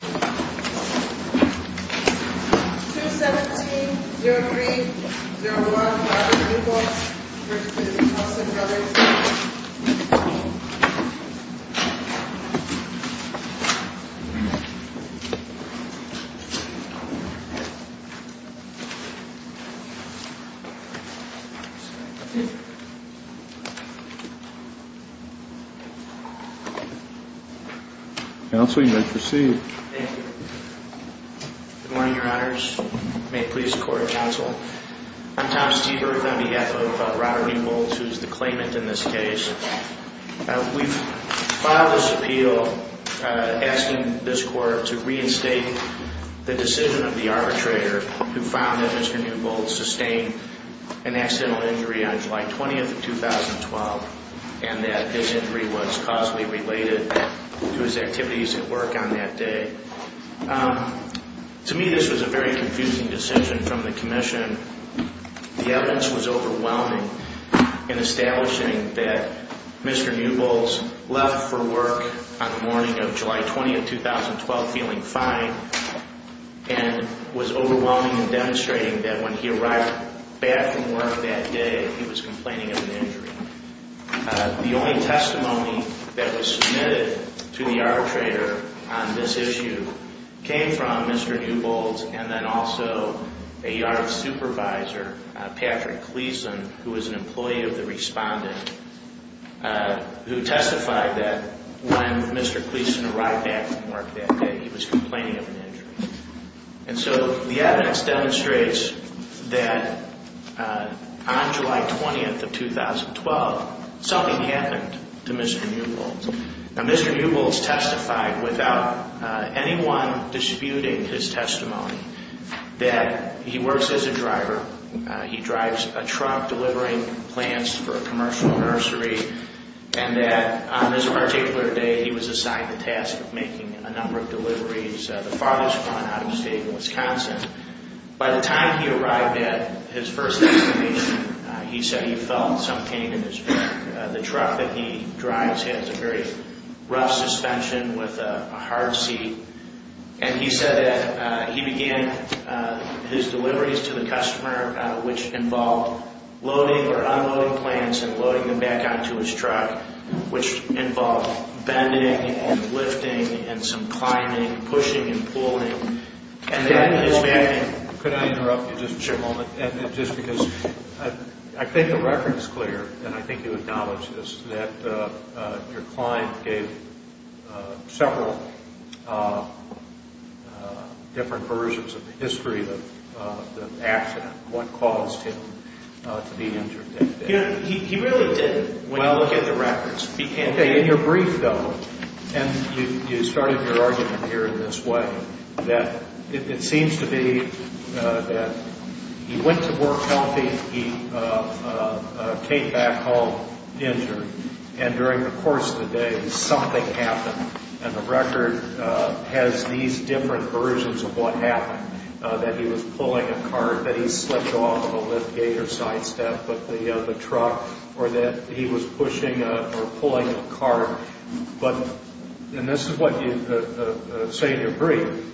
0717305. Counsel you may proceed. Thank you. Good morning, your honors. May it please the court, counsel. I'm Tom Stieber on behalf of Robert E. Bowles, who's the claimant in this case. We've filed this appeal asking this court to reinstate the decision of the arbitrator who found that Mr. Newbold sustained an accidental injury on July 20th of 2012. And that his injury was causally related to his activities at work on that day. Um, to me, this was a very confusing decision from the commission. The evidence was overwhelming in establishing that Mr. Newbold left for work on the morning of July 20th, 2012, feeling fine and was overwhelming and demonstrating that when he arrived back from work that day, he was complaining of an injury. The only testimony that was submitted to the arbitrator on this issue came from Mr. Newbold, and then also a yard supervisor, Patrick Cleason, who was an employee of the respondent, who testified that when Mr. Cleason arrived back from work that day, he was complaining of an injury. And so the evidence demonstrates that on July 20th of 2012, something happened to Mr. Newbold. Now, Mr. Newbold's testified without anyone disputing his testimony that he works as a driver, he drives a truck delivering plants for a commercial nursery, and that on this particular day, he was assigned the task of making a number of deliveries, the farthest one out of the state of Wisconsin. By the time he arrived at his first destination, he said he felt some pain in his back. The truck that he drives has a very rough suspension with a hard seat. And he said that he began his deliveries to the customer, which involved loading or unloading plants and loading them back onto his truck, which involved bending and lifting and some climbing, pushing and pulling. And then he was back in. Could I interrupt you just a moment? Sure. And just because I think the record is clear, and I think you acknowledge this, that your client gave several different versions of the history of the accident, what caused him to be injured that day. He really didn't, when you look at the records, he can't be injured. Okay. In your brief, though, and you started your argument here in this way, that it seems to be that he went to work healthy, he came back home injured, and during the course of the day, something happened. And the record has these different versions of what happened, that he was pulling a cart, that he slipped off of a lift gate or sidestep. But the truck, or that he was pushing or pulling a cart, but, and this is what you say in your brief,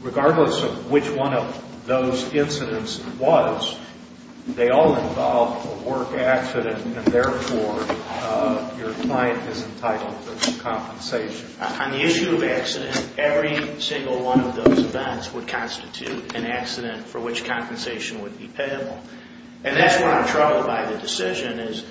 regardless of which one of those incidents it was, they all involved a work accident, and therefore your client is entitled to compensation. On the issue of accident, every single one of those events would constitute an accident for which compensation would be payable. And that's where I'm troubled by the decision is,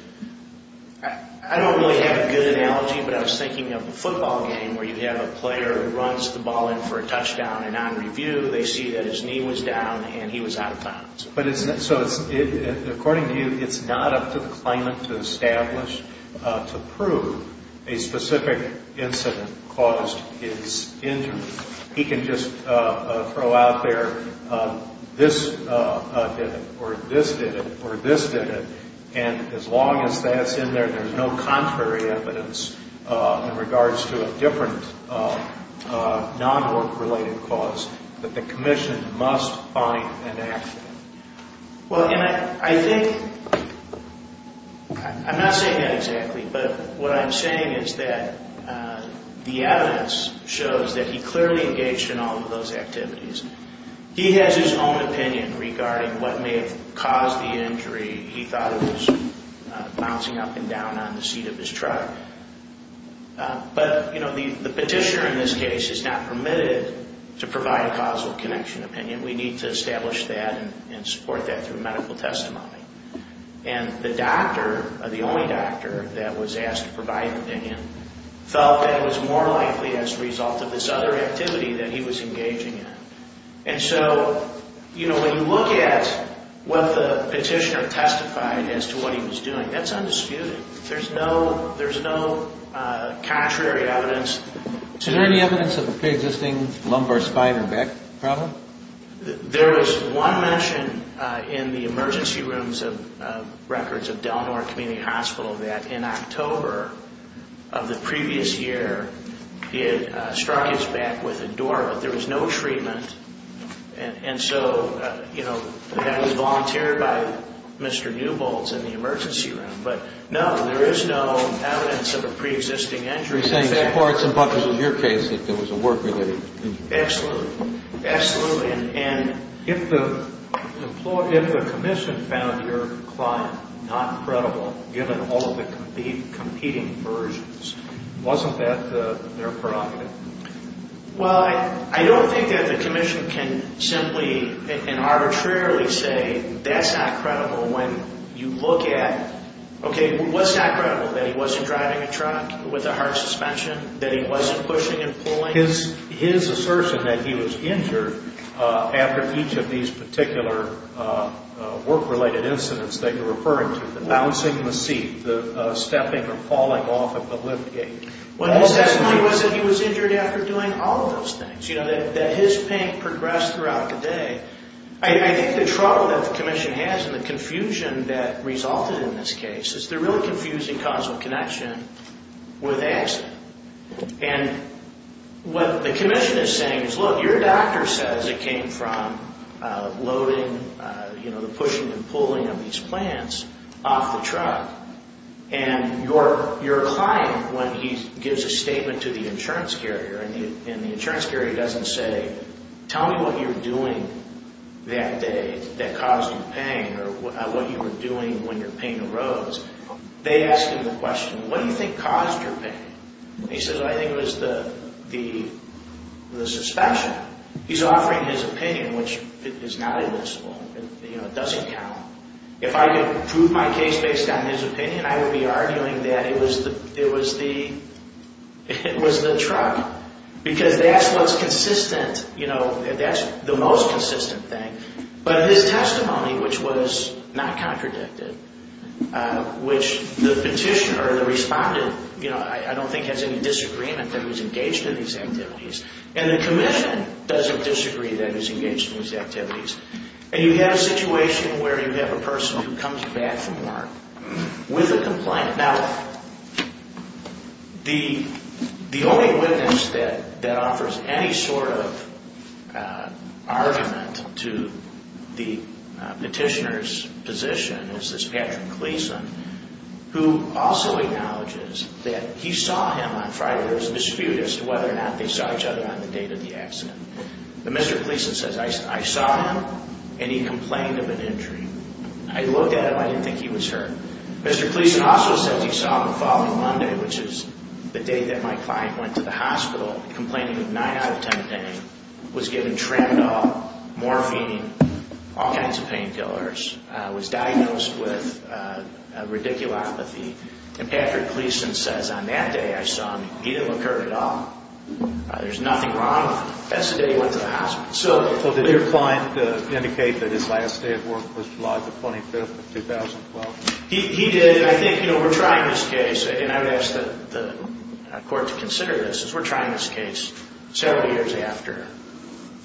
I don't really have a good analogy, but I was thinking of a football game where you'd have a player who runs the ball in for a touchdown, and on review, they see that his knee was down and he was out of bounds. But it's, so it's, according to you, it's not up to the claimant to establish, to prove a specific incident caused his injury. He can just throw out there, this did it, or this did it, or this did it. And as long as that's in there, there's no contrary evidence in regards to a different non-work related cause, that the commission must find an accident. Well, and I think, I'm not saying that exactly, but what I'm saying is that the evidence shows that he clearly engaged in all of those activities. He has his own opinion regarding what may have caused the injury. He thought it was bouncing up and down on the seat of his truck. But, you know, the petitioner in this case is not permitted to provide a causal connection opinion. We need to establish that and support that through medical testimony. And the doctor, the only doctor that was asked to provide an opinion, felt that it was more likely as a result of this other activity that he was engaging in. And so, you know, when you look at what the petitioner testified as to what he was doing, that's undisputed. There's no, there's no contrary evidence. Is there any evidence of a pre-existing lumbar spine and back problem? There was one mention in the emergency rooms of records of Del Nor Community Hospital that in October of the previous year, he had struck his back with a door, but there was no treatment. And so, you know, that was volunteered by Mr. Newbolts in the emergency room. But no, there is no evidence of a pre-existing injury. So you're saying that parts and buckets of your case, that there was a work related injury? Absolutely, absolutely. And if the commission found your client not credible, given all of the competing versions, wasn't that their prerogative? Well, I don't think that the commission can simply and arbitrarily say that's not credible when you look at, okay, what's not credible? That he wasn't driving a truck with a hard suspension? That he wasn't pushing and pulling? His assertion that he was injured after each of these particular work related incidents that you're referring to, the bouncing the seat, the stepping or falling off of the lift gate. Well, his testimony was that he was injured after doing all of those things. You know, that his pain progressed throughout the day. I think the trouble that the commission has and the confusion that resulted in this case is they're really confusing causal connection with accident. And what the commission is saying is, look, your doctor says it came from loading, you know, the pushing and pulling of these plants off the truck. And your client, when he gives a statement to the insurance carrier and the insurance carrier doesn't say, tell me what you were doing that day that caused you pain or what you were doing when your pain arose. They ask him the question, what do you think caused your pain? He says, well, I think it was the suspension. He's offering his opinion, which is not illicit, you know, it doesn't count. If I could prove my case based on his opinion, I would be arguing that it was the truck. Because that's what's consistent, you know, that's the most consistent thing. But his testimony, which was not contradicted, which the petitioner or the respondent, you know, I don't think has any disagreement that he's engaged in these activities. And the commission doesn't disagree that he's engaged in these activities. And you have a situation where you have a person who comes back from work with a complaint. Now, the only witness that offers any sort of argument to the petitioner's position is this Patrick Gleason, who also acknowledges that he saw him on Friday. There was a dispute as to whether or not they saw each other on the date of the accident. But Mr. Gleason says, I saw him and he complained of an injury. I looked at him, I didn't think he was hurt. Mr. Gleason also says he saw him the following Monday, which is the day that my client went to the hospital complaining of 9 out of 10 pain, was given Tramadol, morphine, all kinds of painkillers, was diagnosed with radiculopathy. And Patrick Gleason says on that day I saw him, he didn't look hurt at all. There's nothing wrong with him. That's the day he went to the hospital. So did your client indicate that his last day at work was July the 25th of 2012? He did. And I think, you know, we're trying this case, and I would ask the court to consider this, is we're trying this case several years after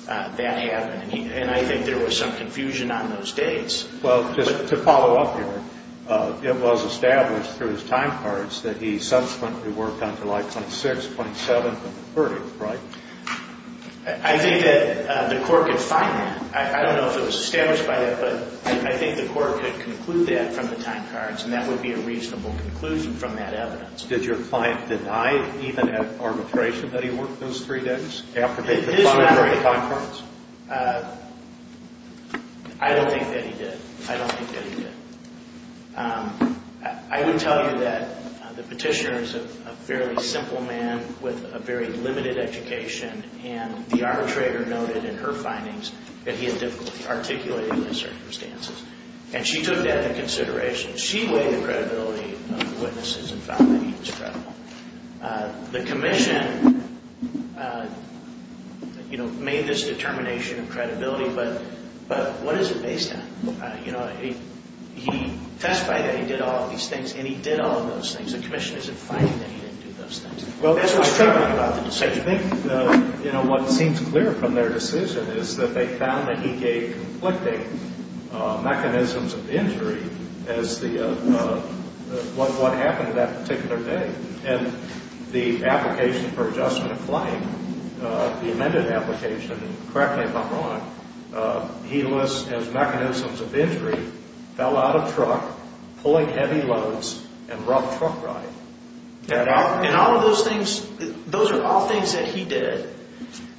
that happened. And I think there was some confusion on those dates. Well, just to follow up here, it was established through his time cards that he subsequently worked on July 26th, 27th, and 30th, right? I think that the court could find that. I don't know if it was established by that, but I think the court could conclude that from the time cards, and that would be a reasonable conclusion from that evidence. Did your client deny, even at arbitration, that he worked those three days after they could find it in the time cards? I don't think that he did. I don't think that he did. I would tell you that the petitioner is a fairly simple man with a very limited education, and the arbitrator noted in her findings that he had difficulty articulating the circumstances. And she took that into consideration. She weighed the credibility of the witnesses and found that he was credible. The commission, you know, made this determination of credibility, but what is it based on? You know, he testified that he did all of these things, and he did all of those things. The commission is in finding that he didn't do those things. That's what's troubling about the decision. I think, you know, what seems clear from their decision is that they found that he gave conflicting mechanisms of injury as the, what happened that particular day. And the application for adjustment of claim, the amended application, and correct me if I'm wrong, he lists as mechanisms of injury, fell out of truck, pulling heavy loads, and rough truck ride. And all of those things, those are all things that he did.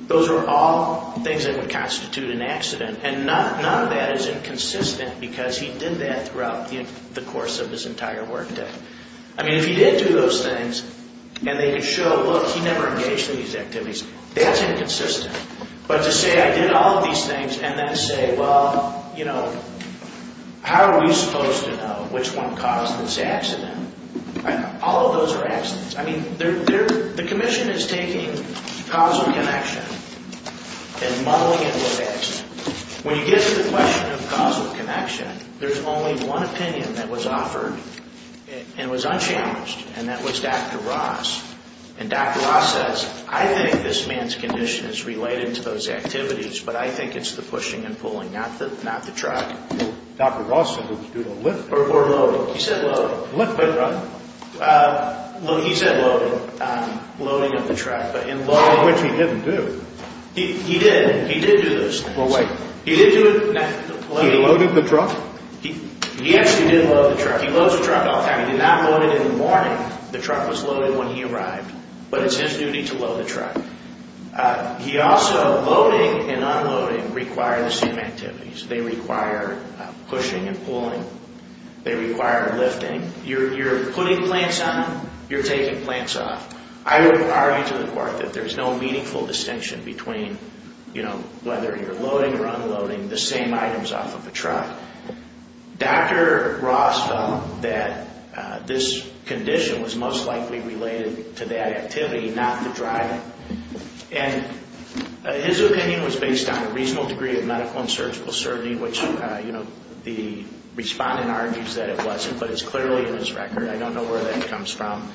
Those are all things that would constitute an accident, and none of that is inconsistent because he did that throughout the course of his entire workday. I mean, if he did do those things, and they could show, look, he never engaged in these activities, that's inconsistent. But to say, I did all of these things, and then say, well, you know, how are we supposed to know which one caused this accident? All of those are accidents. I mean, they're, the commission is taking causal connection and muddling it with accident. When you get to the question of causal connection, there's only one opinion that was offered and was unchallenged, and that was Dr. Ross. And Dr. Ross says, I think this man's condition is related to those activities, but I think it's the pushing and pulling, not the truck. Dr. Ross said it was due to lifting. Or loading. He said loading. Lift by truck? He said loading. Loading of the truck, but in loading. Which he didn't do. He did. He did do those things. He did do it, not loading. He loaded the truck? He actually did load the truck. He loads the truck all the time. He did not load it in the morning. The truck was loaded when he arrived, but it's his duty to load the truck. He also, loading and unloading require the same activities. They require pushing and pulling. They require lifting. You're putting plants on, you're taking plants off. I would argue to the court that there's no meaningful distinction between, you know, whether you're loading or unloading the same items off of the truck. Dr. Ross felt that this condition was most likely related to that activity, not the driving. And his opinion was based on a reasonable degree of medical and surgical certainty, which, you know, the respondent argues that it wasn't, but it's clearly in his record. I don't know where that comes from.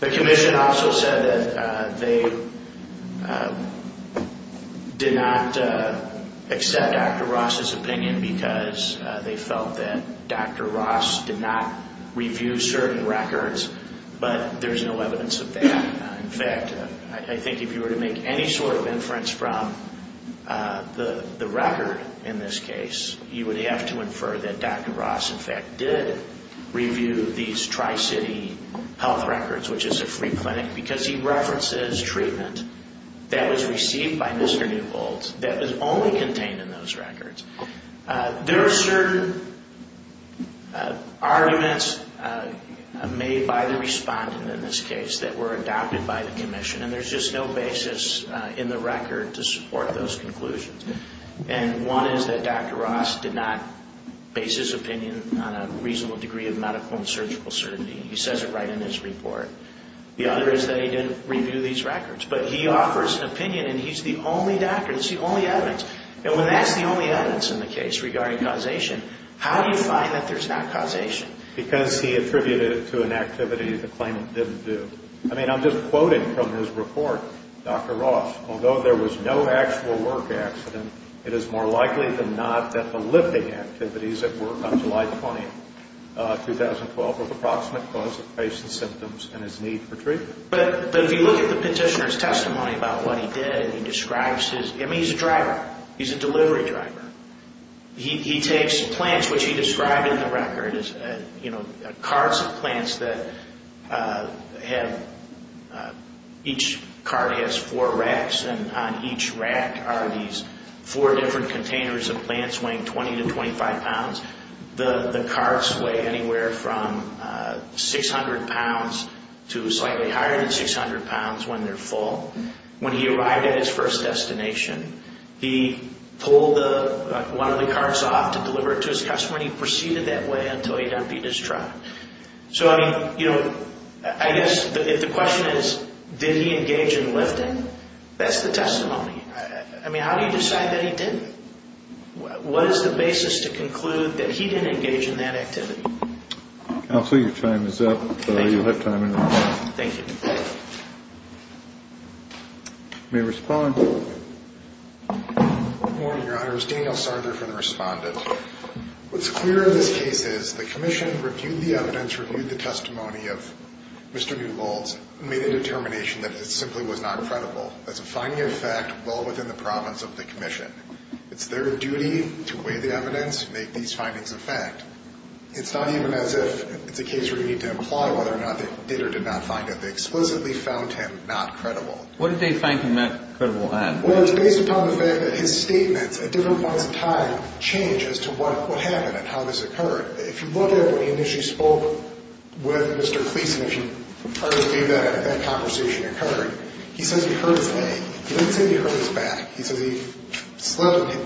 The commission also said that they did not accept Dr. Ross's opinion because they felt that Dr. Ross did not review certain records, but there's no evidence of that. In fact, I think if you were to make any sort of inference from the record in this case, you would have to infer that Dr. Ross, in fact, did review these Tri-City health records, which is a free clinic, because he references treatment that was received by Mr. Newholtz that was only contained in those records. There are certain arguments made by the respondent in this case that were adopted by the commission. And there's just no basis in the record to support those conclusions. And one is that Dr. Ross did not base his opinion on a reasonable degree of medical and surgical certainty. He says it right in his report. The other is that he didn't review these records. But he offers an opinion, and he's the only doctor, that's the only evidence. And when that's the only evidence in the case regarding causation, how do you find that there's not causation? Because he attributed it to an activity the claimant didn't do. I mean, I'm just quoting from his report. Dr. Ross, although there was no actual work accident, it is more likely than not that the lifting activities at work on July 20th, 2012, were the approximate cause of patient's symptoms and his need for treatment. But if you look at the petitioner's testimony about what he did, he describes his, I mean, he's a driver. He's a delivery driver. He takes plants, which he described in the record as, you know, carts of plants that have, each cart has four racks. And on each rack are these four different containers of plants weighing 20 to 25 pounds. The carts weigh anywhere from 600 pounds to slightly higher than 600 pounds when they're full. When he arrived at his first destination, he pulled one of the carts off to deliver it to his customer. And he proceeded that way until he got beat in his truck. So, I mean, you know, I guess if the question is, did he engage in lifting? That's the testimony. I mean, how do you decide that he didn't? What is the basis to conclude that he didn't engage in that activity? Counselor, your time is up. You have time in the room. Thank you. May I respond? Good morning, Your Honor. It's Daniel Sarger from the Respondent. What's clear in this case is the commission reviewed the evidence, reviewed the testimony of Mr. Newbold's, made a determination that it simply was not credible. That's a finding of fact well within the province of the commission. It's their duty to weigh the evidence, make these findings a fact. It's not even as if it's a case where you need to imply whether or not they did or did not find it. They explicitly found him not credible. What did they find him not credible at? Well, it's based upon the fact that his statements at different points in time change as to what happened and how this occurred. If you look at what he initially spoke with Mr. Cleason, if you hardly believe that that conversation occurred, he says he hurt his leg. He didn't say he hurt his back. He says he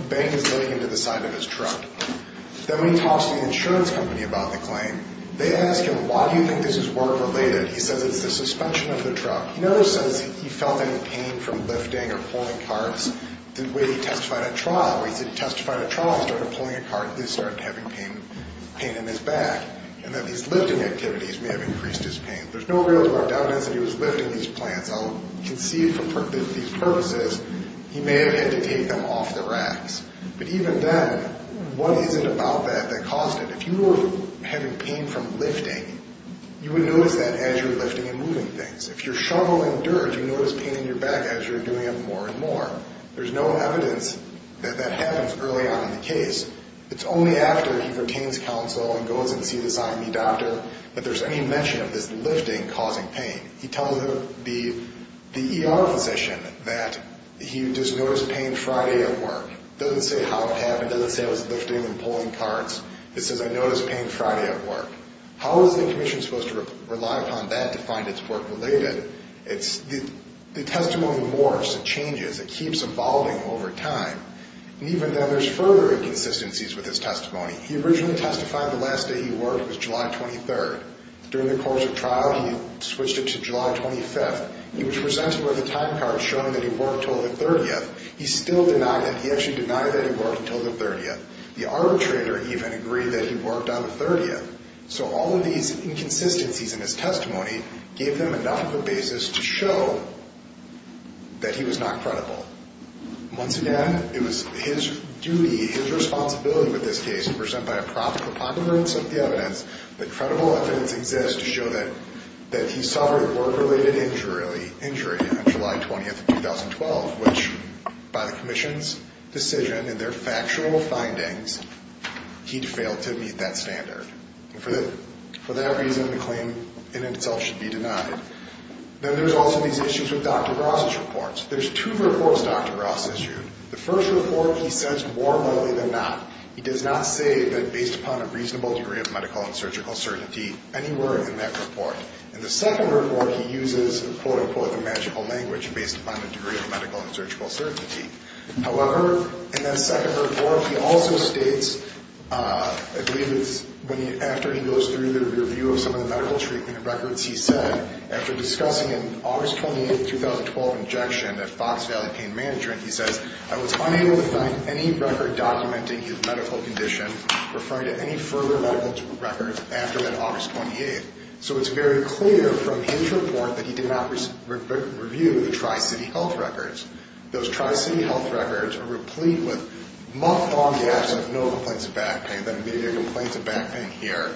banged his leg into the side of his truck. Then when he talks to the insurance company about the claim, they ask him, why do you think this is work-related? He says it's the suspension of the truck. In other sense, he felt any pain from lifting or pulling carts the way he testified at trial. He said he testified at trial and started pulling a cart and he started having pain in his back. And that these lifting activities may have increased his pain. There's no real evidence that he was lifting these plants. I'll concede for these purposes, he may have had to take them off the racks. But even then, what is it about that that caused it? If you were having pain from lifting, you would notice that as you're lifting and moving things. If you're shoveling dirt, you notice pain in your back as you're doing it more and more. There's no evidence that that happens early on in the case. It's only after he retains counsel and goes and sees his IME doctor that there's any mention of this lifting causing pain. He tells the ER physician that he just noticed pain Friday at work. Doesn't say how it happened. Doesn't say I was lifting and pulling carts. It says I noticed pain Friday at work. How is the commission supposed to rely upon that to find it's work related? It's the testimony morphs and changes. It keeps evolving over time. And even then there's further inconsistencies with his testimony. He originally testified the last day he worked was July 23rd. During the course of trial, he switched it to July 25th. He was presented with a time card showing that he worked until the 30th. He still denied it. He actually denied that he worked until the 30th. The arbitrator even agreed that he worked on the 30th. So all of these inconsistencies in his testimony gave them enough of a basis to show that he was not credible. Once again, it was his duty, his responsibility with this case to present by a probable evidence of the evidence that credible evidence exists to show that he suffered work-related injury on July 20th of 2012, which by the commission's decision and their factual findings, he'd failed to meet that standard. For that reason, the claim in itself should be denied. Then there's also these issues with Dr. Ross's reports. There's two reports Dr. Ross issued. The first report, he says more widely than not. He does not say that based upon a reasonable degree of medical and surgical certainty anywhere in that report. In the second report, he uses, quote unquote, the magical language, based upon a degree of medical and surgical certainty. However, in that second report, he also states, I believe it's after he goes through the review of some of the medical treatment records, he said, after discussing an August 28th, 2012 injection at Fox Valley Pain Management, he says, I was unable to find any record documenting his medical condition, referring to any further medical records after that August 28th. So it's very clear from his report that he did not review the Tri-City Health Records. Those Tri-City Health Records are replete with month-long gaps of no complaints of back pain, and then maybe a complaint of back pain here.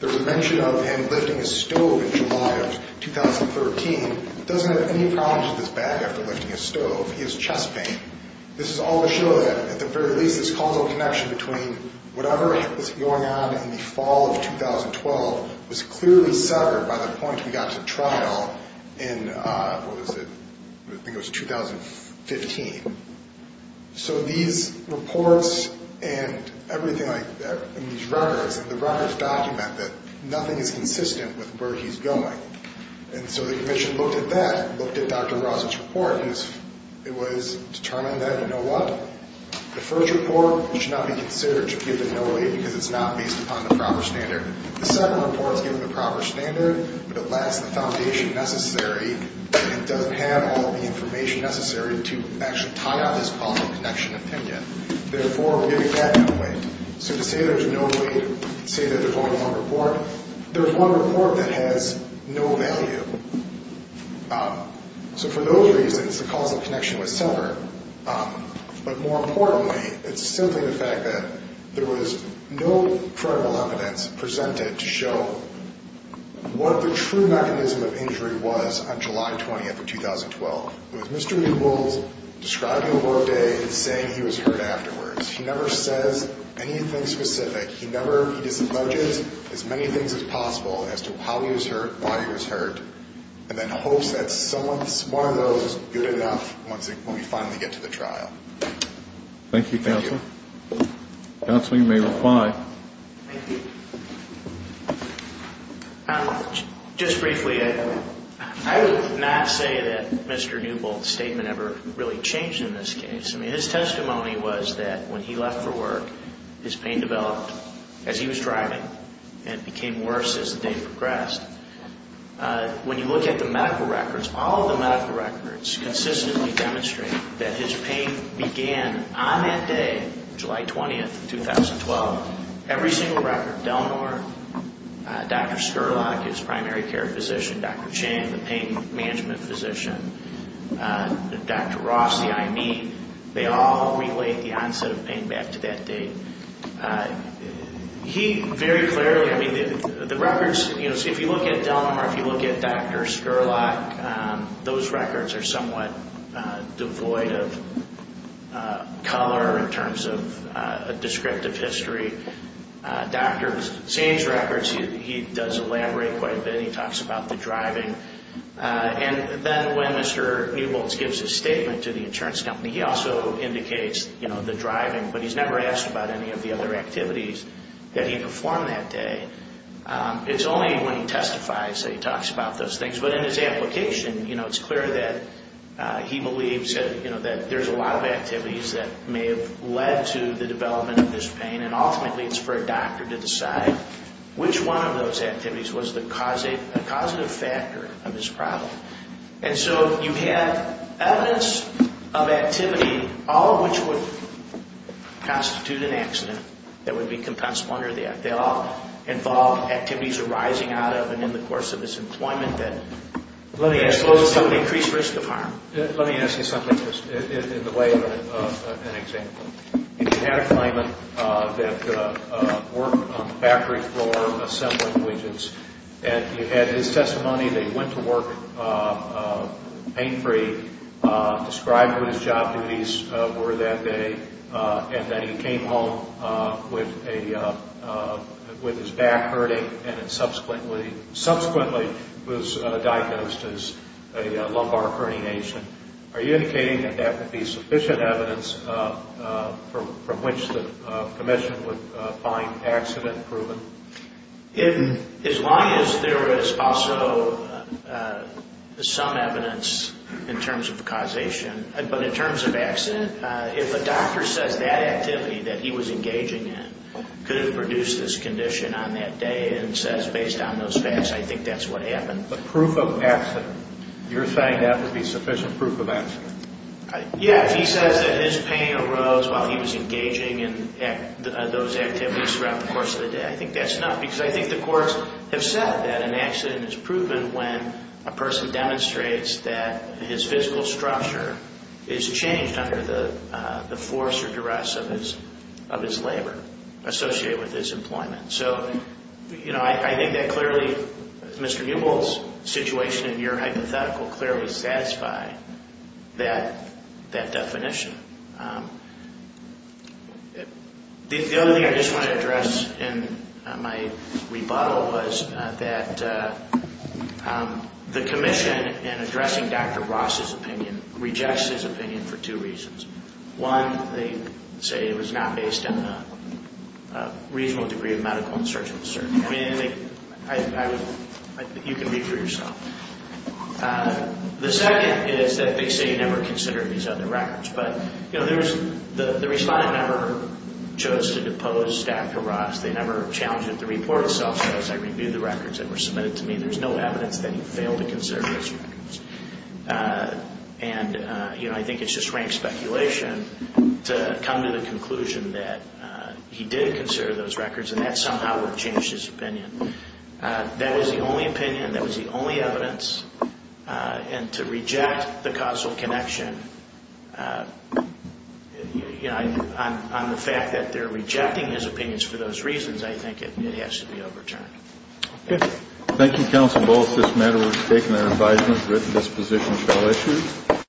There was a mention of him lifting a stove in July of 2013. He doesn't have any problems with his back after lifting a stove. He has chest pain. This is all to show that, at the very least, this causal connection between whatever was going on in the fall of 2012 was clearly severed by the point we got to trial in, what was it, I think it was 2015. So these reports and everything like that, and these records, and the records document that nothing is consistent with where he's going. And so the Commission looked at that, looked at Dr. Ross's report, and it was determined that, you know what? The first report should not be considered to be a no-lead, because it's not based upon the proper standard. The second report is given the proper standard, but it lacks the foundation necessary, and doesn't have all the information necessary to actually tie on this causal connection opinion. Therefore, we're giving that no weight. So to say there's no weight, to say that there's only one report, there's one report that has no value. So for those reasons, the causal connection was severed. But more importantly, it's simply the fact that there was no credible evidence presented to show what the true mechanism of injury was on July 20th of 2012. It was Mr. Meebles describing a work day and saying he was hurt afterwards. He never says anything specific. He never, he disalleges as many things as possible as to how he was hurt, why he was hurt, and then hopes that someone, one of those is good enough when we finally get to the trial. Thank you, Counsel. Counsel, you may reply. Just briefly, I would not say that Mr. Newbolt's statement ever really changed in this case. I mean, his testimony was that when he left for work, his pain developed as he was driving and became worse as the day progressed. When you look at the medical records, all of the medical records consistently demonstrate that his pain began on that day, July 20th of 2012. Every single record, Delnor, Dr. Scurlock, his primary care physician, Dr. Chang, the pain management physician, Dr. Ross, the IME, they all relate the onset of pain back to that day. He very clearly, I mean, the records, if you look at Delnor, if you look at Dr. Scurlock, those records are somewhat devoid of color in terms of a descriptive history. Dr. Chang's records, he does elaborate quite a bit. He talks about the driving. And then when Mr. Newbolt gives his statement to the insurance company, he also indicates the driving, but he's never asked about any of the other activities that he performed that day. It's only when he testifies that he talks about those things. But in his application, it's clear that he believes that there's a lot of activities that may have led to the development of this pain, and ultimately it's for a doctor to decide which one of those activities was the causative factor of his problem. And so you have evidence of activity, all of which would constitute an accident that would be compensatory. They all involve activities arising out of and in the course of his employment that poses some increased risk of harm. Let me ask you something just in the way of an example. You had a client that worked on the factory floor assembling widgets, and you had his testimony that he went to work pain-free, described what his job duties were that day, and that he came home with his back hurting and subsequently was diagnosed as a lumbar herniation. Are you indicating that that would be sufficient evidence from which the commission would find accident proven? As long as there is also some evidence in terms of causation. But in terms of accident, if a doctor says that activity that he was engaging in could have produced this condition on that day and says based on those facts, I think that's what happened. But proof of accident, you're saying that would be sufficient proof of accident? Yes, he says that his pain arose while he was engaging in those activities throughout the course of the day. I think that's enough because I think the courts have said that an accident is proven when a person demonstrates that his physical structure is changed under the force or duress of his labor associated with his employment. So, you know, I think that clearly Mr. Newbold's situation in your hypothetical clearly satisfied that definition. The other thing I just want to address in my rebuttal was that the commission in addressing Dr. Ross's opinion rejects his opinion for two reasons. One, they say it was not based on a reasonable degree of medical and surgical certainty. I mean, you can read for yourself. The second is that they say he never considered these other records. But, you know, the respondent never chose to depose Dr. Ross. They never challenged the report itself. So as I review the records that were submitted to me, there's no evidence that he failed to consider those records. And, you know, I think it's just rank speculation to come to the conclusion that he did consider those records and that somehow would have changed his opinion. That is the only opinion. That was the only evidence. And to reject the causal connection, you know, on the fact that they're rejecting his opinions for those reasons, I think it has to be overturned. Thank you. Thank you, Counsel Bulls. This matter was taken at advisement. Written disposition shall issue.